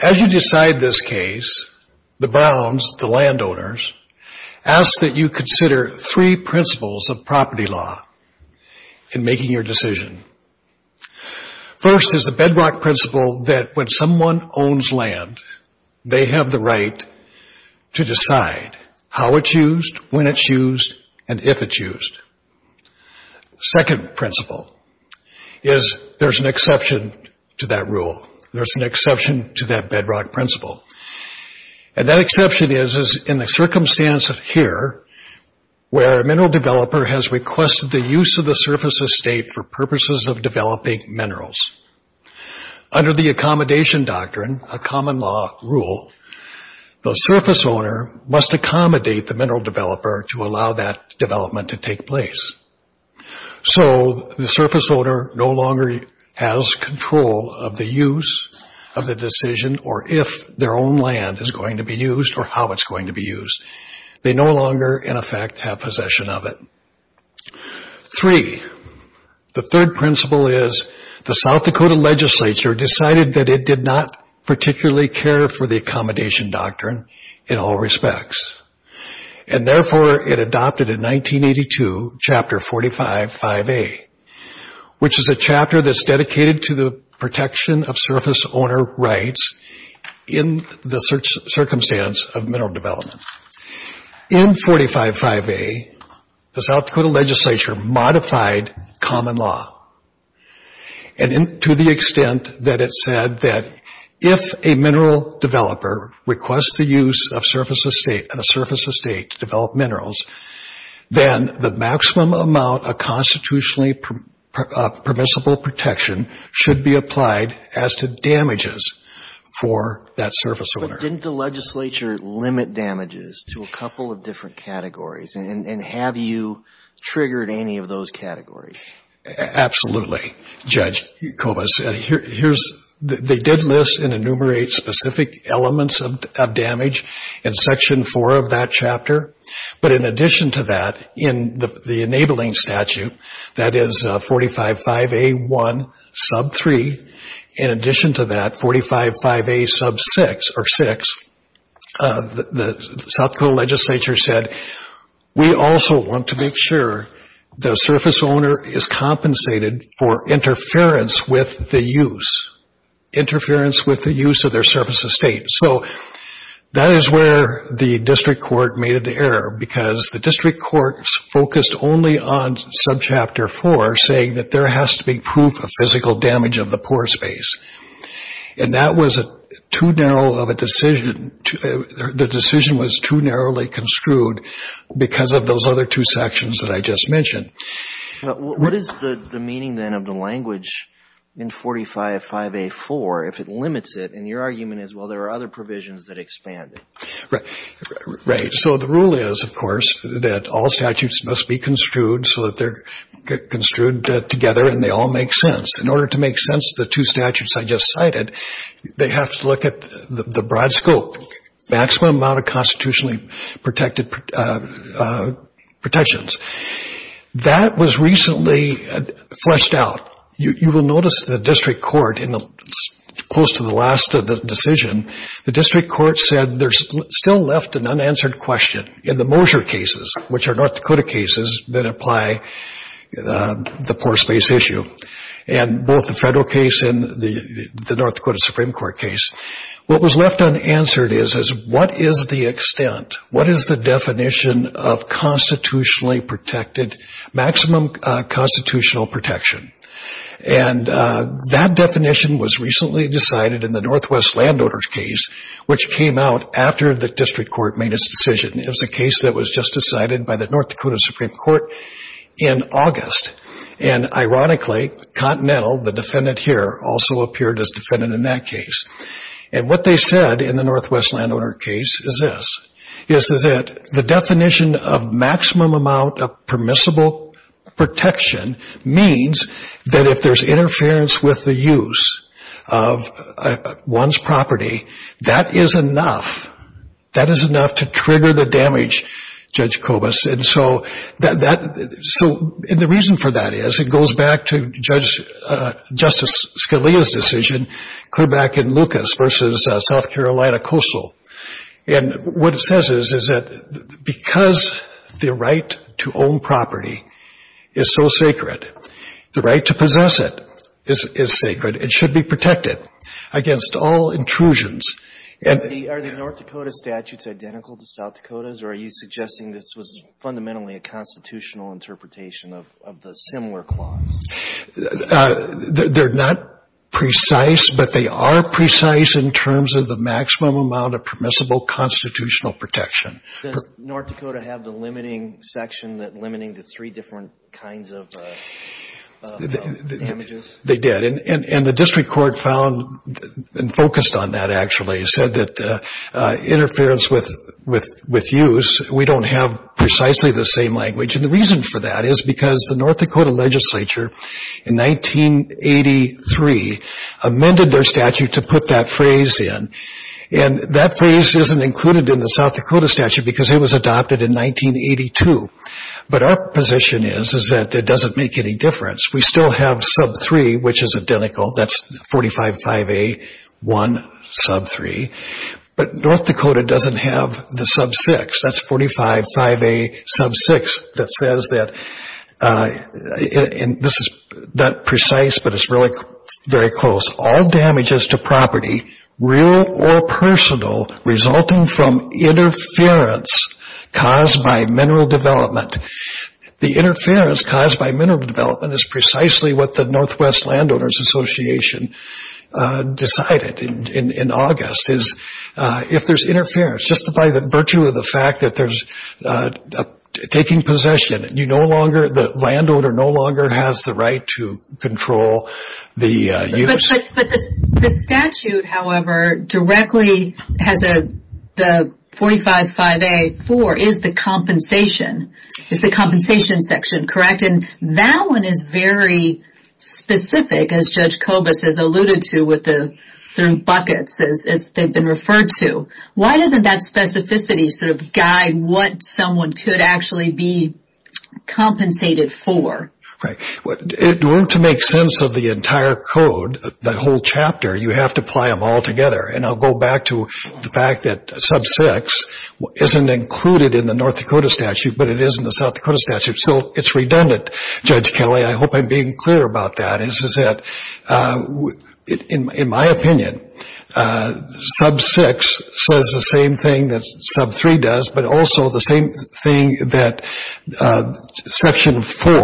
As you decide this case, the Browns, the landowners, ask that you consider three principles of First is the bedrock principle that when someone owns land, they have the right to decide how it's used, when it's used, and if it's used. Second principle is there's an exception to that rule. There's an exception to that bedrock principle. And that exception is in the circumstance of here, where a mineral developer has requested the use of the surface estate for purposes of developing minerals. Under the accommodation doctrine, a common law rule, the surface owner must accommodate the mineral developer to allow that development to take place. So the surface owner no longer has control of the use of the decision or if their own land is going to be used or how it's going to be used. They no longer, in effect, have possession of it. Three, the third principle is the South Dakota legislature decided that it did not particularly care for the accommodation doctrine in all respects. And therefore, it adopted in 1982, Chapter 45, 5A, which is a chapter that's dedicated to the protection of surface owner rights in the circumstance of mineral development. In 45, 5A, the South Dakota legislature modified common law to the extent that it said that if a mineral developer requests the use of a surface estate to develop minerals, then the maximum amount of constitutionally permissible protection should be different categories. And have you triggered any of those categories? Absolutely, Judge Kovas. They did list and enumerate specific elements of damage in Section 4 of that chapter. But in addition to that, in the enabling statute, that is 45, 5A, 1, sub 3. In addition to that, 45, 5A, sub 6, or 6, the South Dakota legislature said, we also want to make sure the surface owner is compensated for interference with the use. Interference with the use of their So that is where the district court made an error, because the district court focused only on subchapter 4, saying that there has to be proof of physical damage of the pore space. And that was too narrow of a decision. The decision was too narrowly construed because of those other two sections that I just mentioned. What is the meaning, then, of the language in 45, 5A, 4 if it limits it, and your argument is, well, there are other provisions that expand it? Right. So the rule is, of course, that all statutes must be construed so that they're construed together and they all make sense. In order to make sense of the two statutes I just cited, they have to look at the broad scope, maximum amount of constitutionally protected protections. That was recently fleshed out. You will notice the district court, close to the last of the decision, the district court said there's still left an unanswered question in the Moser cases, which are North Dakota cases that apply the pore space issue, and both the federal case and the North Dakota Supreme Court case. What was left unanswered is, what is the extent, what is the definition of constitutionally protected, maximum constitutional protection? And that definition was recently decided in the Northwest Landowners case, which came out after the district court made its decision. It was a case that was just decided by the North Dakota Supreme Court in August. And ironically, Continental, the defendant here, also appeared as defendant in that case. And what they said in the Northwest Landowner case is this, is that the definition of maximum amount of permissible protection means that if there's interference with the use of one's property, that is enough, that is enough to trigger the damage, Judge Kobus. And so that, so, and the reason for that is, it goes back to Judge, Justice Scalia's decision clear back in Lucas versus South Carolina Coastal. And what it says is, is that because the right to own property is so sacred, the right to possess it is sacred, it should be protected against all intrusions. And the, are the North Dakota statutes identical to South Dakota's, or are you suggesting this was fundamentally a constitutional interpretation of the similar clause? They're not precise, but they are precise in terms of the maximum amount of permissible constitutional protection. Does North Dakota have the limiting section that limiting the three different kinds of damages? They did. And the district court found, and focused on that actually, said that interference with use, we don't have precisely the same language. And the reason for that is because the North Dakota legislature in 1983 amended their statute to put that phrase in. And that phrase isn't included in the South Dakota statute because it was adopted in 1982. But our position is, is that it doesn't make any difference. We still have sub-3, which is identical. That's 45-5A-1 sub-3. But North Dakota doesn't have the sub-6. That's 45-5A sub-6 that says that, and this is not precise, but it's really very close. All damages to property, real or personal, resulting from interference caused by mineral development. The interference caused by mineral development is precisely what the Northwest Landowners Association decided in August. If there's interference, just by the virtue of the fact that there's taking possession, you no longer, the land owner no longer has the right to control the use. But the statute, however, directly has a, the 45-5A-4 is the compensation, is the compensation section, correct? And that one is very specific, as Judge Kobus has alluded to, with the certain buckets as they've been referred to. Why doesn't that specificity sort of guide what someone could actually be compensated for? Right. To make sense of the entire code, that whole chapter, you have to apply them all together. And I'll go back to the fact that sub-6 isn't included in the North Dakota statute, but it is in the South Dakota statute. So it's redundant, Judge Kelly. I hope I'm being clear about that, is that, in my opinion, sub-6 says the same thing that sub-3 does, but also the same thing that Section 4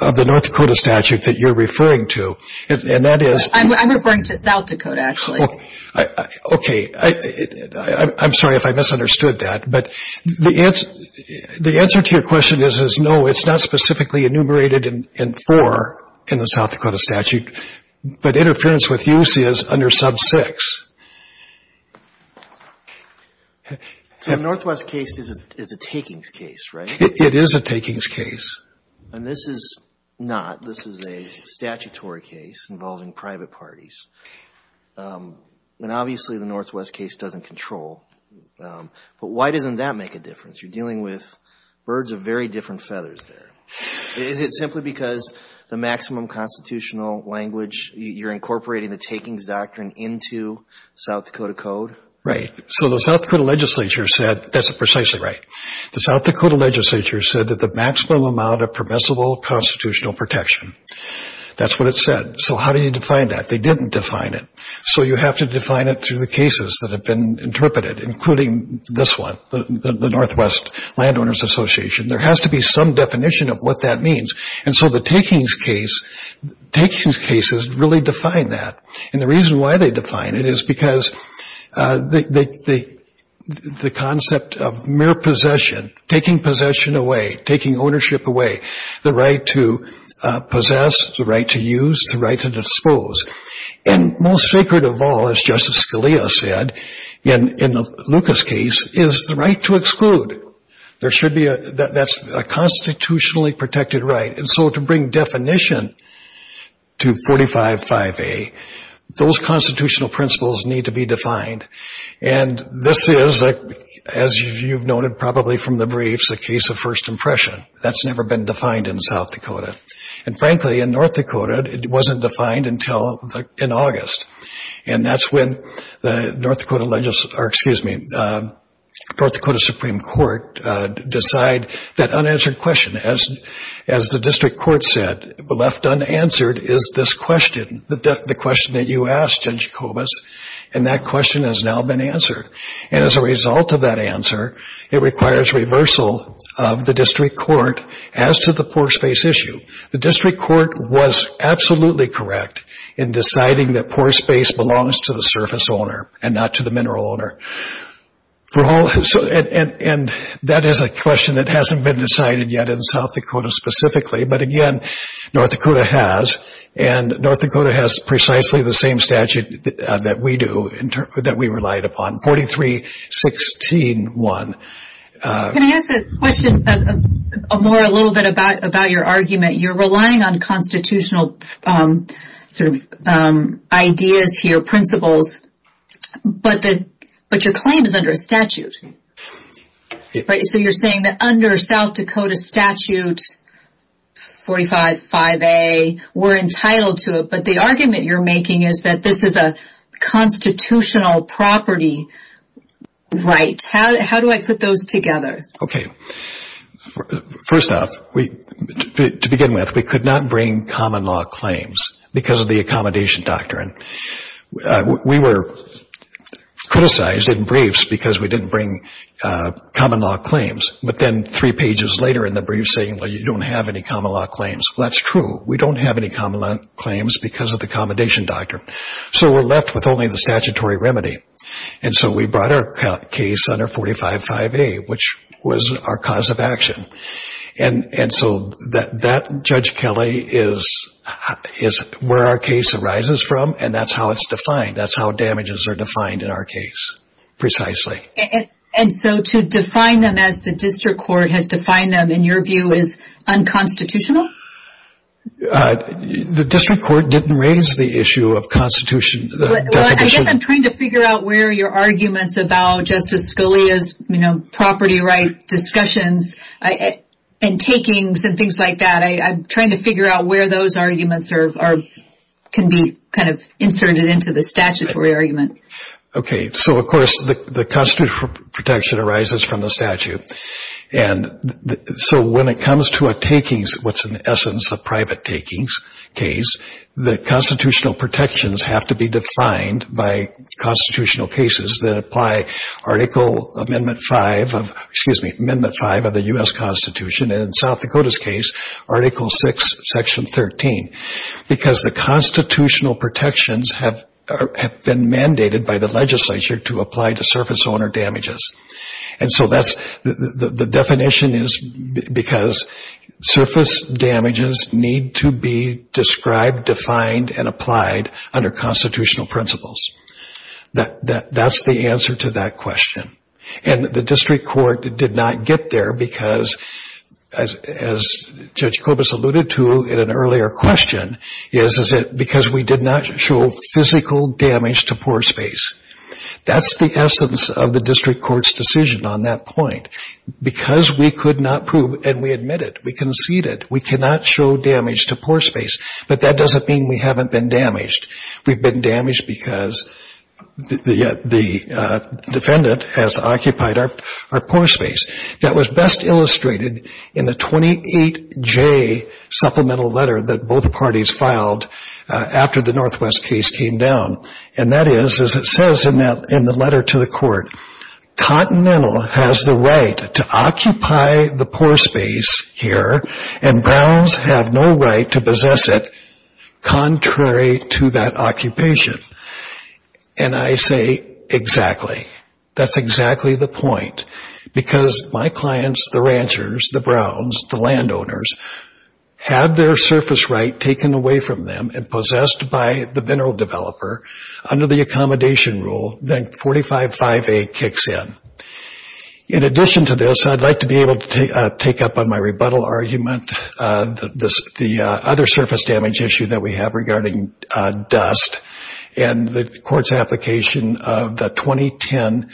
of the North Dakota statute that you're referring to, and that is... I'm referring to South Dakota, actually. Okay. I'm sorry if I misunderstood that, but the answer to your question is no, it's not specifically enumerated in 4 in the South Dakota statute, but interference with use is under sub-6. So the Northwest case is a takings case, right? It is a takings case. And this is not. This is a statutory case involving private parties. And obviously the Northwest case doesn't control. But why doesn't that make a difference? You're dealing with birds of very different feathers there. Is it simply because the maximum constitutional language, you're incorporating the takings doctrine into South Dakota code? Right. So the South Dakota legislature said, that's precisely right. The South Dakota legislature said that the maximum amount of permissible constitutional protection, that's what it said. So how do you define that? They didn't define it. So you have to define it through the cases that have been interpreted, including this one, the Northwest Landowners Association. There has to be some definition of what that means. And so the takings case, takings cases really define that. And the reason why they define it is because the concept of mere possession, taking possession away, taking ownership away, the right to possess, the right to use, the right to dispose. And most sacred of all, as Justice Scalia said, in the Lucas case, is the right to exclude. That's a constitutionally protected right. And so to bring definition to 45-5A, those constitutional principles need to be defined. And this is, as you've noted probably from the briefs, a case of first impression. That's never been a North Dakota Supreme Court decide that unanswered question. As the district court said, left unanswered is this question, the question that you asked, Judge Kobus, and that question has now been answered. And as a result of that answer, it requires reversal of the district court as to the correct in deciding that poor space belongs to the surface owner and not to the mineral owner. And that is a question that hasn't been decided yet in South Dakota specifically, but again, North Dakota has. And North Dakota has precisely the same statute that we do, that we relied upon, 43-16-1. Can I ask a question more, a little bit about your argument? You're relying on constitutional sort of ideas here, principles, but your claim is under a statute. So you're saying that under South Dakota statute 45-5A, we're entitled to it, but the argument you're making is that this is a constitutional property right. How do I put those together? Okay. First off, to begin with, we could not bring common law claims because of the accommodation doctrine. We were criticized in briefs because we didn't bring common law claims, but then three pages later in the briefs saying, well, you don't have any common law claims. Well, that's true. We were left with only the statutory remedy. And so we brought our case under 45-5A, which was our cause of action. And so that, Judge Kelly, is where our case arises from, and that's how it's defined. That's how damages are defined in our case, precisely. And so to define them as the district court has defined them, in your view, as unconstitutional? The district court didn't raise the issue of constitution. Well, I guess I'm trying to figure out where your arguments about Justice Scalia's, you know, property right discussions and takings and things like that. I'm trying to figure out where those arguments can be kind of inserted into the statutory argument. Okay. So, of course, the constitutional protection arises from the statute. And so when it comes to a takings, what's in essence a private takings case, the constitutional protections have to be defined by constitutional cases that apply Article Amendment 5 of, excuse me, Amendment 5 of the U.S. Constitution, and in South Dakota's case, Article 6, Section 13, because the constitutional protections have been mandated by the legislature to apply to surface owner damages. And so that's, the definition is because surface damages need to be described, defined, and applied under constitutional principles. That's the answer to that question. And the district court did not get there because, as Judge Kobus alluded to in an earlier question, is because we did not show physical damage to poor space. That's the essence of the district court's decision on that point. Because we could not prove, and we admitted, we conceded, we cannot show damage to poor space, but that doesn't mean we haven't been damaged. We've been damaged because the defendant has occupied our poor space. That was best illustrated in the 28J supplemental letter that both parties filed after the Northwest case came down. And that is, as it says in the letter to the court, Continental has the right to occupy the poor space here, and Browns have no right to possess it contrary to that the ranchers, the Browns, the landowners, have their surface right taken away from them and possessed by the mineral developer under the accommodation rule, then 455A kicks in. In addition to this, I'd like to be able to take up on my rebuttal argument, the other surface damage issue that we have regarding dust, and the court's application of the 2010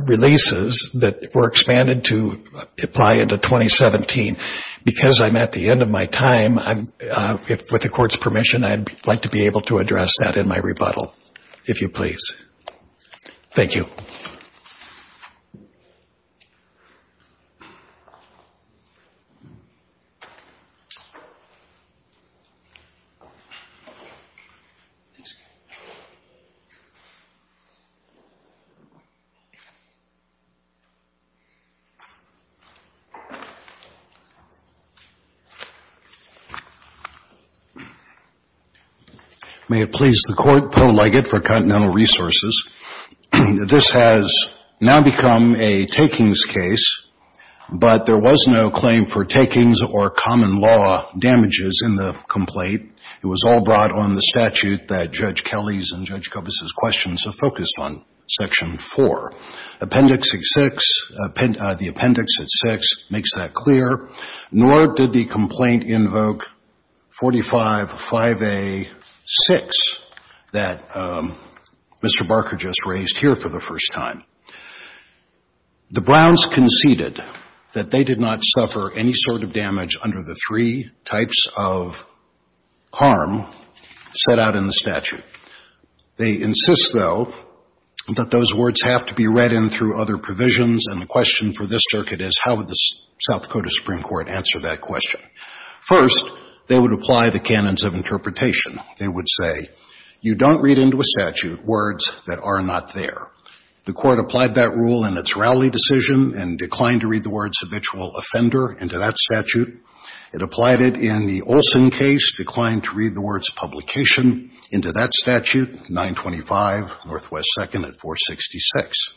releases that were expanded to apply into 2017. Because I'm at the end of my time, with the court's permission, I'd like to be able to address that in my rebuttal, if you please. Thank you. May it please the Court, Poe Leggett for Continental Resources. This has now become a takings case, but there was no claim for takings or common law damages in the complaint. The plaintiff's claim was that the landowner had taken the land away from the ranchers. It was all brought on the statute that Judge Kelly's and Judge Kobus' questions have focused on, Section 4. Appendix 6, the appendix at 6 makes that clear. Nor did the complaint invoke 455A-6 that Mr. Barker just raised here for the first time. The Browns conceded that they did not suffer any sort of harm set out in the statute. They insist, though, that those words have to be read in through other provisions, and the question for this circuit is, how would the South Dakota Supreme Court answer that question? First, they would apply the canons of interpretation. They would say, you don't read into a statute words that are not there. The Court applied that rule in its Rowley decision and declined to read the words habitual offender into that statute. It applied it in the Olson case, declined to read the words publication into that statute, 925 Northwest 2nd at 466.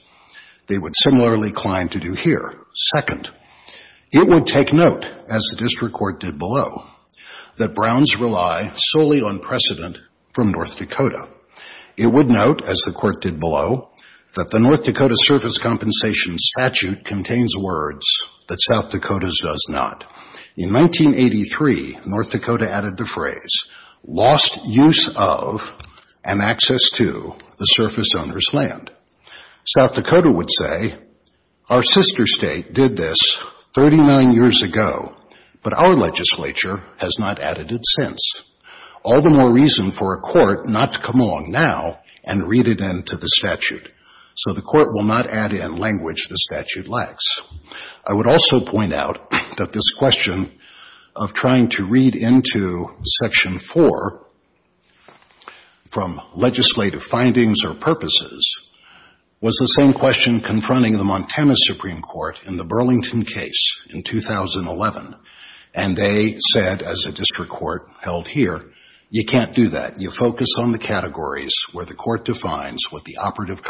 They would similarly decline to do here. Second, it would take note, as the District Court did below, that Browns rely solely on precedent from North Dakota. It would note, as the Court did below, that the North Dakota added the phrase, lost use of and access to the surface owner's land. South Dakota would say, our sister state did this 39 years ago, but our legislature has not added it since. All the more reason for a court not to come along now and read it into the statute, so the Court will not add in language the statute lacks. I would also point out that this question of trying to read into Section 4 from legislative findings or purposes was the same question confronting the Montana Supreme Court in the Burlington case in 2011. They said, as the District Court held here, you can't do that. You focus on the categories where the Court defines what the operative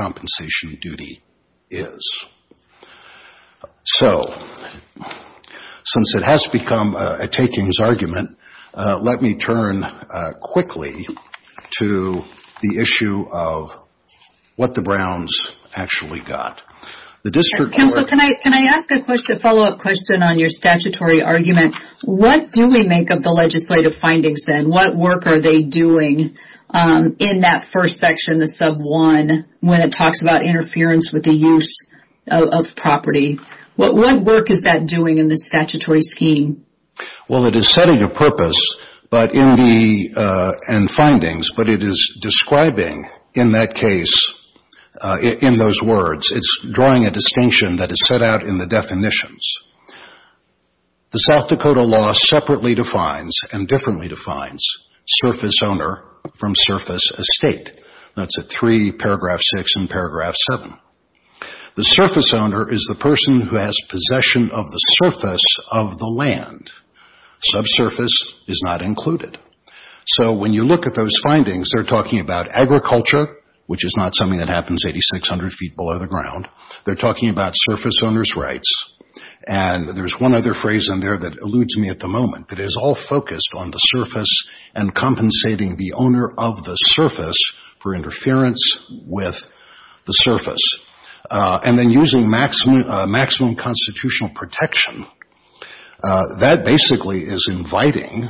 Since it has become a takings argument, let me turn quickly to the issue of what the Browns actually got. Counsel, can I ask a follow-up question on your statutory argument? What do we make of the legislative findings then? What work are they doing in that first section, the Sub 1, when it talks about interference with the use of property? What work is that doing in the statutory scheme? Well, it is setting a purpose and findings, but it is describing in that case, in those words. It's drawing a distinction that is set out in the definitions. The South Dakota law separately defines and differently defines surface owner from surface estate. That's at 3 paragraph 6 and paragraph 7. The surface owner is the person who has possession of the surface of the land. Subsurface is not included. So when you look at those findings, they're talking about agriculture, which is not something that happens 8,600 feet below the ground. They're talking about surface owner's rights. And there's one other phrase in there that using maximum constitutional protection, that basically is inviting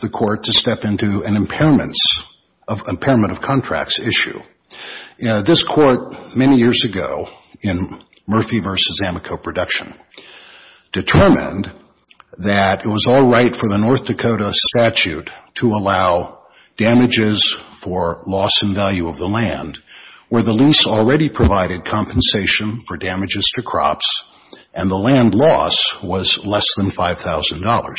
the court to step into an impairments of impairment of contracts issue. This court, many years ago, in Murphy v. Amoco production, determined that it was all right for the North Dakota statute to allow damages for loss in value of the land, where the lease already provided compensation for damages to crops and the land loss was less than $5,000.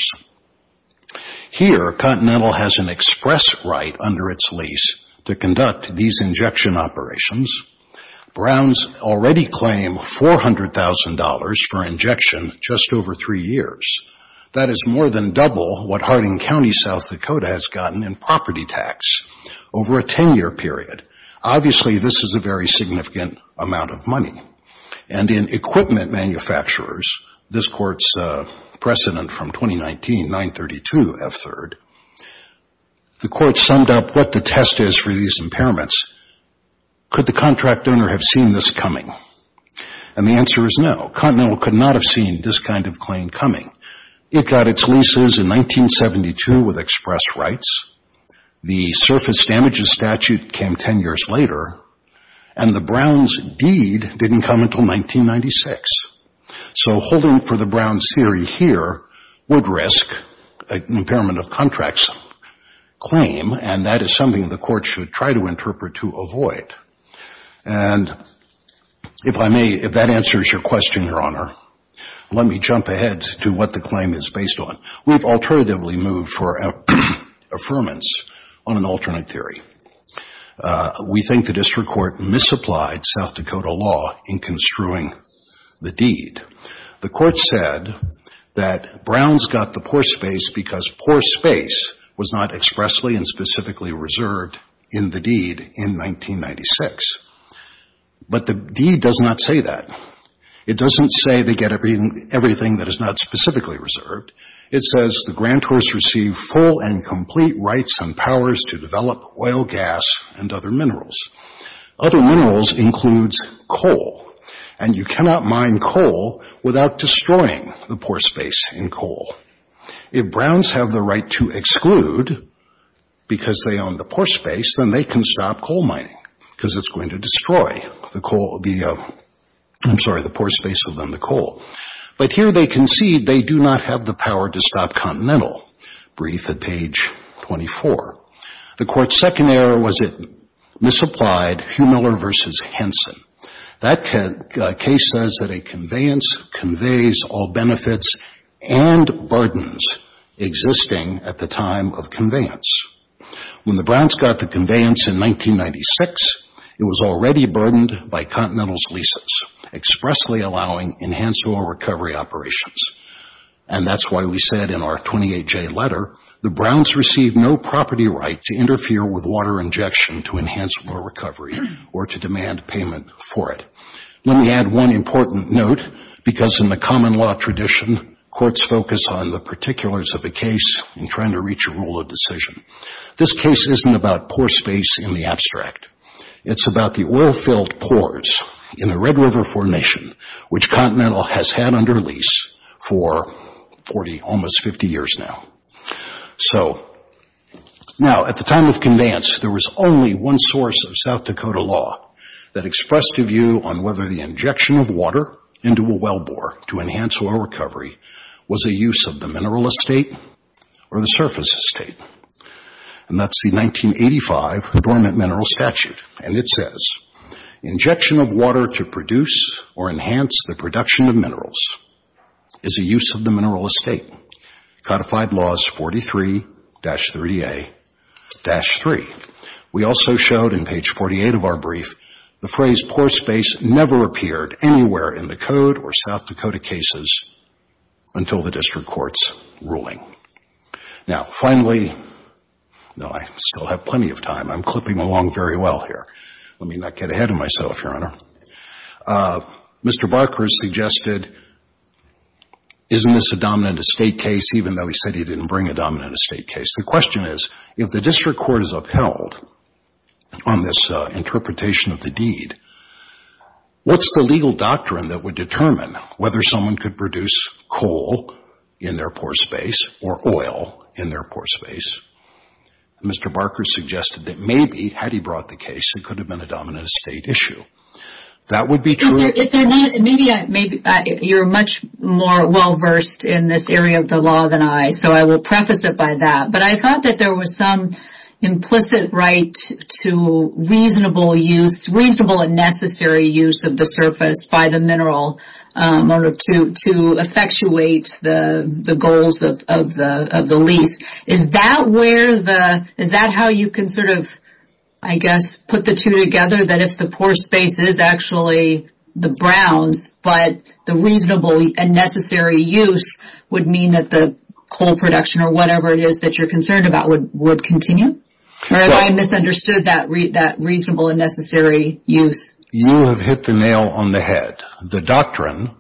Here, Continental has an express right under its lease to conduct these injection operations. Browns already claim $400,000 for injection just over 3 years. That is more than double what Harding County, South Dakota has gotten in property tax over a 10-year period. Obviously, this is a very significant amount of money. And in equipment manufacturers, this court's precedent from 2019, 932F3rd, the court summed up what the test is for these impairments. Could the contract owner have seen this coming? And the answer is no. Continental could not have seen this kind of claim coming. It got its leases in 1972 with express rights. The surface damages statute came 10 years later. And the Browns deed didn't come until 1996. So holding for the Browns theory here would risk an impairment of contracts claim. And that is something the court should try to interpret to avoid. And if I may, if that answers your question, Your Honor, let me jump ahead to what the claim is based on. We've alternatively moved for affirmance on an alternate theory. We think the district court misapplied South Dakota law in construing the deed. The court said that Browns got the poor space because poor space was not expressly and specifically reserved in the deed in 1996. But the deed does not say that. It doesn't say they get everything that is not specifically reserved. It says the grantors receive full and complete rights and powers to develop oil, gas, and other minerals. Other minerals includes coal. And you cannot mine coal without destroying the poor space in coal. If Browns have the right to exclude because they own the poor space, then they can stop coal mining because it's going to destroy the coal, I'm sorry, the poor space within the coal. But here they concede they do not have the power to stop Continental. Brief at page 24. The court's second error was it misapplied Hugh Miller v. Henson. That case says that a conveyance conveys all benefits and burdens existing at the time of conveyance. When the Browns got the conveyance in 1996, it was already burdened by Continental's leases expressly allowing enhanced oil recovery operations. And that's why we said in our 28-J letter the Browns received no property right to interfere with water injection to enhance oil recovery or to demand payment for it. Let me add one important note because in the common law tradition, courts focus on the particulars of the case in trying to reach a rule of decision. This case isn't about poor space in the abstract. It's about the oil-filled pores in the Red River Formation, which Continental has had under lease for almost 50 years now. So now at the time of conveyance, there was only one source of South Dakota law that expressed a view on whether the injection of water into a well bore to enhance oil recovery was a use of the mineral estate or the surface estate. And that's the 1985 Adornment Mineral Statute. And it says, injection of water to produce or enhance the production of minerals is a use of the mineral estate, codified laws 43-3A-3. We also showed in page 48 of our brief the phrase poor space never appeared anywhere in the code or South Dakota cases until the district court's ruling. Now, finally, no, I still have plenty of time. I'm clipping along very well here. Let me not get ahead of myself, Your Honor. Mr. Barker suggested, isn't this a dominant estate case even though he said he didn't bring a dominant estate case? The question is, if the district court is upheld on this interpretation of the deed, what's the legal doctrine that would determine whether someone could produce coal in their poor space or oil in their poor space? Mr. Barker suggested that maybe had he brought the case, it could have been a dominant estate issue. That would be true. Maybe you're much more well-versed in this area of the law than I, so I will preface it by that. But I thought that there was some implicit right to reasonable use, reasonable and necessary use of the surface by the mineral to effectuate the goals of the lease. Is that how you can sort of, I guess, put the two together, that if the poor space is actually the Browns, but the reasonable and necessary use would mean that the coal production or whatever it is that you're concerned about would continue? Or have I misunderstood that reasonable and necessary use? You have hit the nail on the head. The doctrine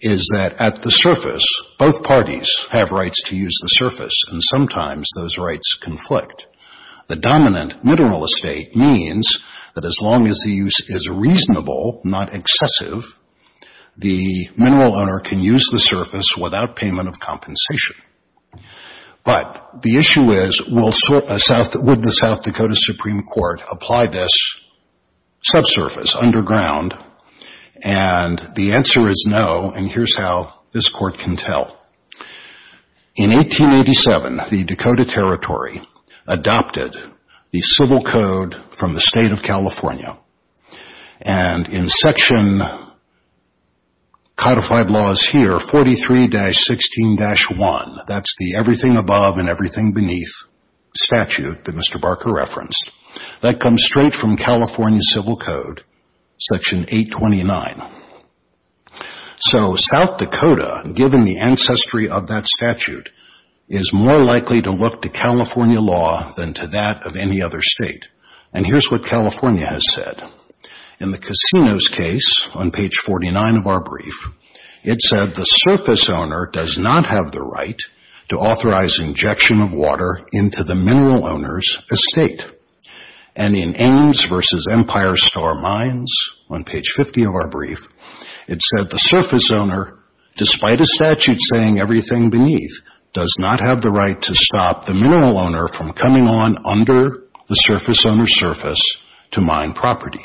is that at the surface, both parties have rights to use the surface, and sometimes those rights conflict. The dominant mineral estate means that as long as the use is reasonable, not excessive, the mineral owner can use the surface without payment of compensation. But the issue is, would the South Dakota Supreme Court apply this subsurface underground? And the answer is no, and here's how this court can tell. In 1887, the Dakota Territory adopted the Civil Code from the state of California, and in section codified laws here, 43-16-1, that's the everything above and everything beneath statute that Mr. Barker referenced, that comes straight from California Civil Code, section 829. So South Dakota, given the ancestry of that statute, is more likely to look to California law than to that of any other state, and here's what California has said. In the casinos case, on page 49 of our brief, it said the surface owner does not have the right to authorize injection of water into the mineral owner's estate. And in Ames v. Empire Store Mines, on page 50 of our brief, it said the surface owner, despite a statute saying everything beneath, does not have the right to stop the mineral owner from coming on under the surface owner's surface to mine property.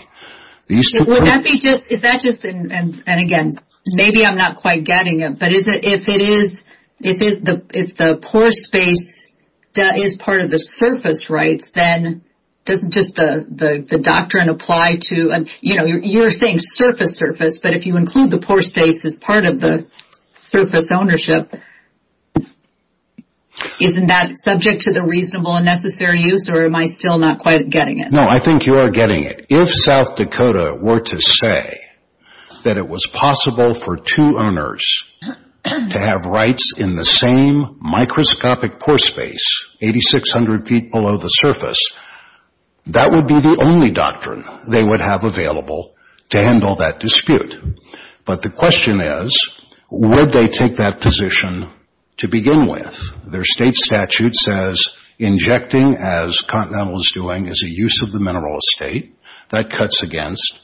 Would that be just, is that just, and again, maybe I'm not quite getting it, but if it is, if the pore space is part of the surface rights, then doesn't just the doctrine apply to, you know, you're saying surface surface, but if you include the pore space as part of the surface ownership, isn't that subject to the reasonable and necessary use, or am I still not quite getting it? No, I think you are getting it. If South Dakota were to say that it was possible for two owners to have rights in the same microscopic pore space, 8,600 feet below the surface, that would be the only doctrine they would have available to handle that dispute. But the question is, would they take that position to begin with? Their state statute says injecting, as Continental is doing, is a use of the mineral estate. That cuts against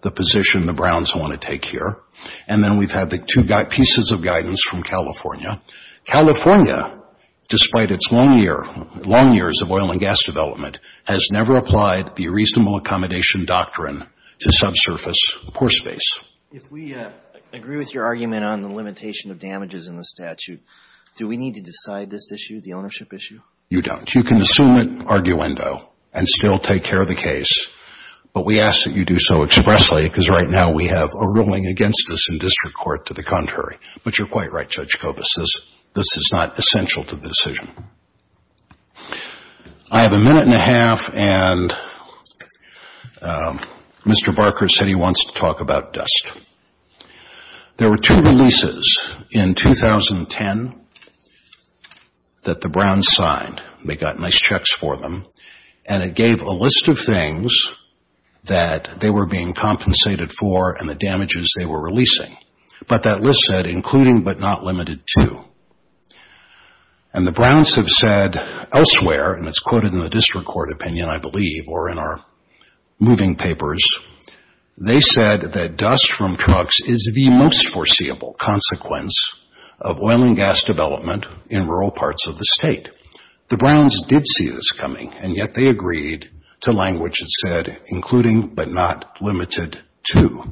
the position the Browns want to take here. And then we've had the two pieces of guidance from California. California, despite its long years of oil and gas development, has never applied the reasonable accommodation doctrine to subsurface pore space. If we agree with your argument on the limitation of damages in the statute, do we need to decide this issue, the ownership issue? You don't. You can assume it, arguendo, and still take care of the case, but we ask that you do so expressly because right now we have a ruling against us in district court to the contrary. But you're quite right, Judge Kobus, this is not essential to the decision. I have a minute and a half, and Mr. Barker said he wants to talk about dust. There were two releases in 2010 that the Browns signed. They got nice checks for them, and it gave a list of things that they were being compensated for and the damages they were releasing. But that list said, including but not limited to. And the Browns have said elsewhere, and it's quoted in the district court opinion, I believe, or in our moving papers, they said that dust from trucks is the most foreseeable consequence of oil and gas development in rural parts of the state. The Browns did see this coming, and yet they agreed to language that said, including but not limited to.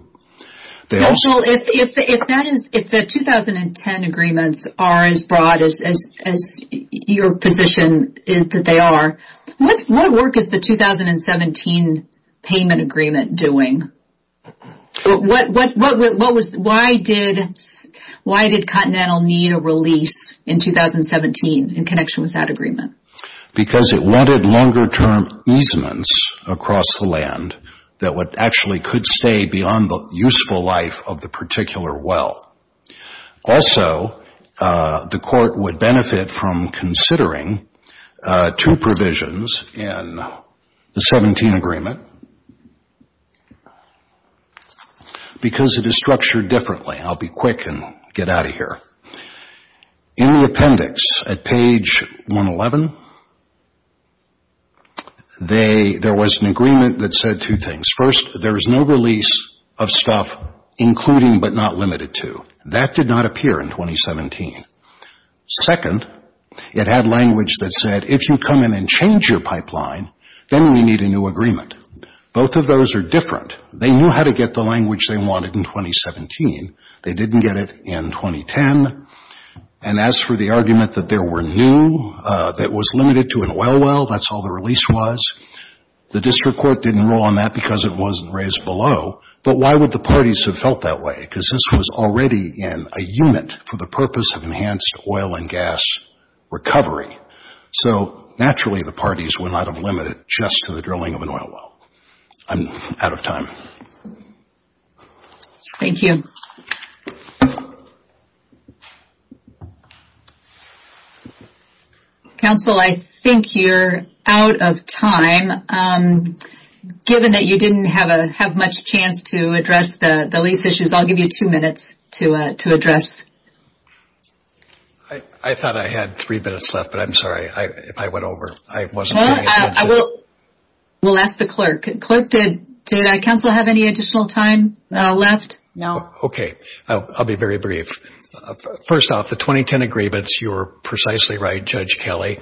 If the 2010 agreements are as broad as your position is that they are, what work is the 2017 payment agreement doing? Why did Continental need a release in 2017 in connection with that agreement? Because it wanted longer-term easements across the land that actually could stay beyond the useful life of the particular well. Also, the court would benefit from considering two provisions in the 2017 agreement because it is structured differently. I'll be quick and get out of here. In the appendix at page 111, there was an agreement that said two things. First, there is no release of stuff including but not limited to. That did not appear in 2017. Second, it had language that said, if you come in and change your pipeline, then we need a new agreement. Both of those are different. They knew how to get the language they wanted in 2017. They didn't get it in 2010. And as for the argument that there were new, that it was limited to an oil well, that's all the release was, the district court didn't rule on that because it wasn't raised below. But why would the parties have felt that way? Because this was already in a unit for the purpose of enhanced oil and gas recovery. So, naturally, the parties would not have limited it just to the drilling of an oil well. I'm out of time. Thank you. Counsel, I think you're out of time. Given that you didn't have much chance to address the lease issues, I'll give you two minutes to address. I thought I had three minutes left, but I'm sorry. I went over. I will ask the clerk. Clerk, did counsel have any additional time left? No. Okay. I'll be very brief. First off, the 2010 agreements, you were precisely right, Judge Kelly.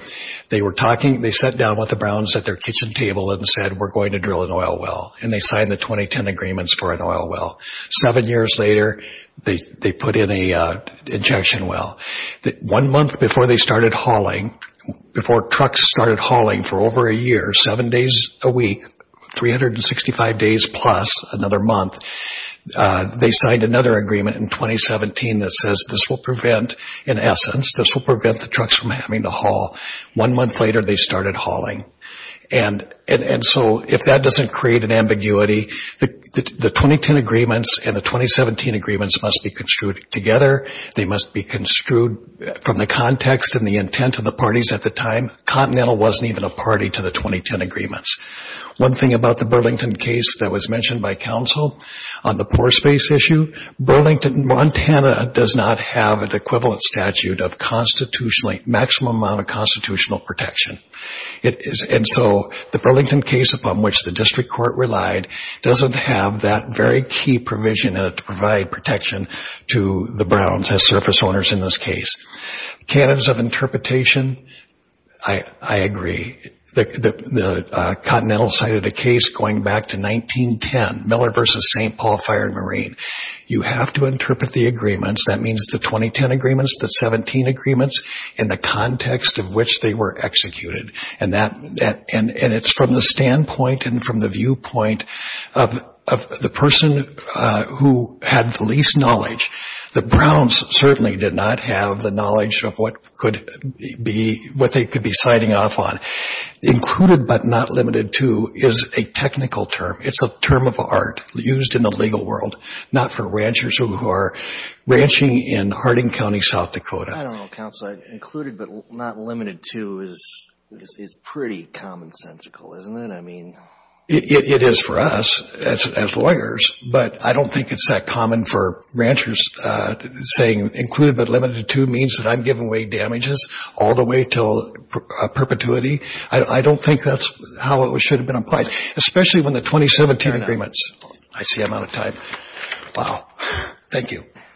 They were talking. They sat down with the Browns at their kitchen table and said, we're going to drill an oil well. And they signed the 2010 agreements for an oil well. Seven years later, they put in an injection well. One month before they started hauling, before trucks started hauling for over a year, seven days a week, 365 days plus, another month, they signed another agreement in 2017 that says this will prevent, in essence, this will prevent the trucks from having to haul. One month later, they started hauling. And so, if that doesn't create an ambiguity, the 2010 agreements and the 2017 agreements must be construed together. They must be construed from the context and the intent of the parties at the time. Continental wasn't even a party to the 2010 agreements. One thing about the Burlington case that was mentioned by counsel on the poor space issue, Burlington, Montana does not have an equivalent statute of maximum amount of constitutional protection. And so the Burlington case upon which the district court relied doesn't have that very key provision in it to provide protection to the Browns as surface owners in this case. Canons of interpretation, I agree. The Continental cited a case going back to 1910, Miller v. St. Paul Fire and Marine. You have to interpret the agreements. That means the 2010 agreements, the 17 agreements, and the context of which they were executed. And it's from the standpoint and from the viewpoint of the person who had the least knowledge. The Browns certainly did not have the knowledge of what they could be siding off on. Included but not limited to is a technical term. It's a term of art used in the legal world, not for ranchers who are ranching in Harding County, South Dakota. I don't know, counsel. Included but not limited to is pretty commonsensical, isn't it? I mean. It is for us as lawyers, but I don't think it's that common for ranchers saying included but limited to means that I'm giving away damages all the way to perpetuity. I don't think that's how it should have been applied, especially when the 2017 agreements. I see I'm out of time. Wow. Thank you.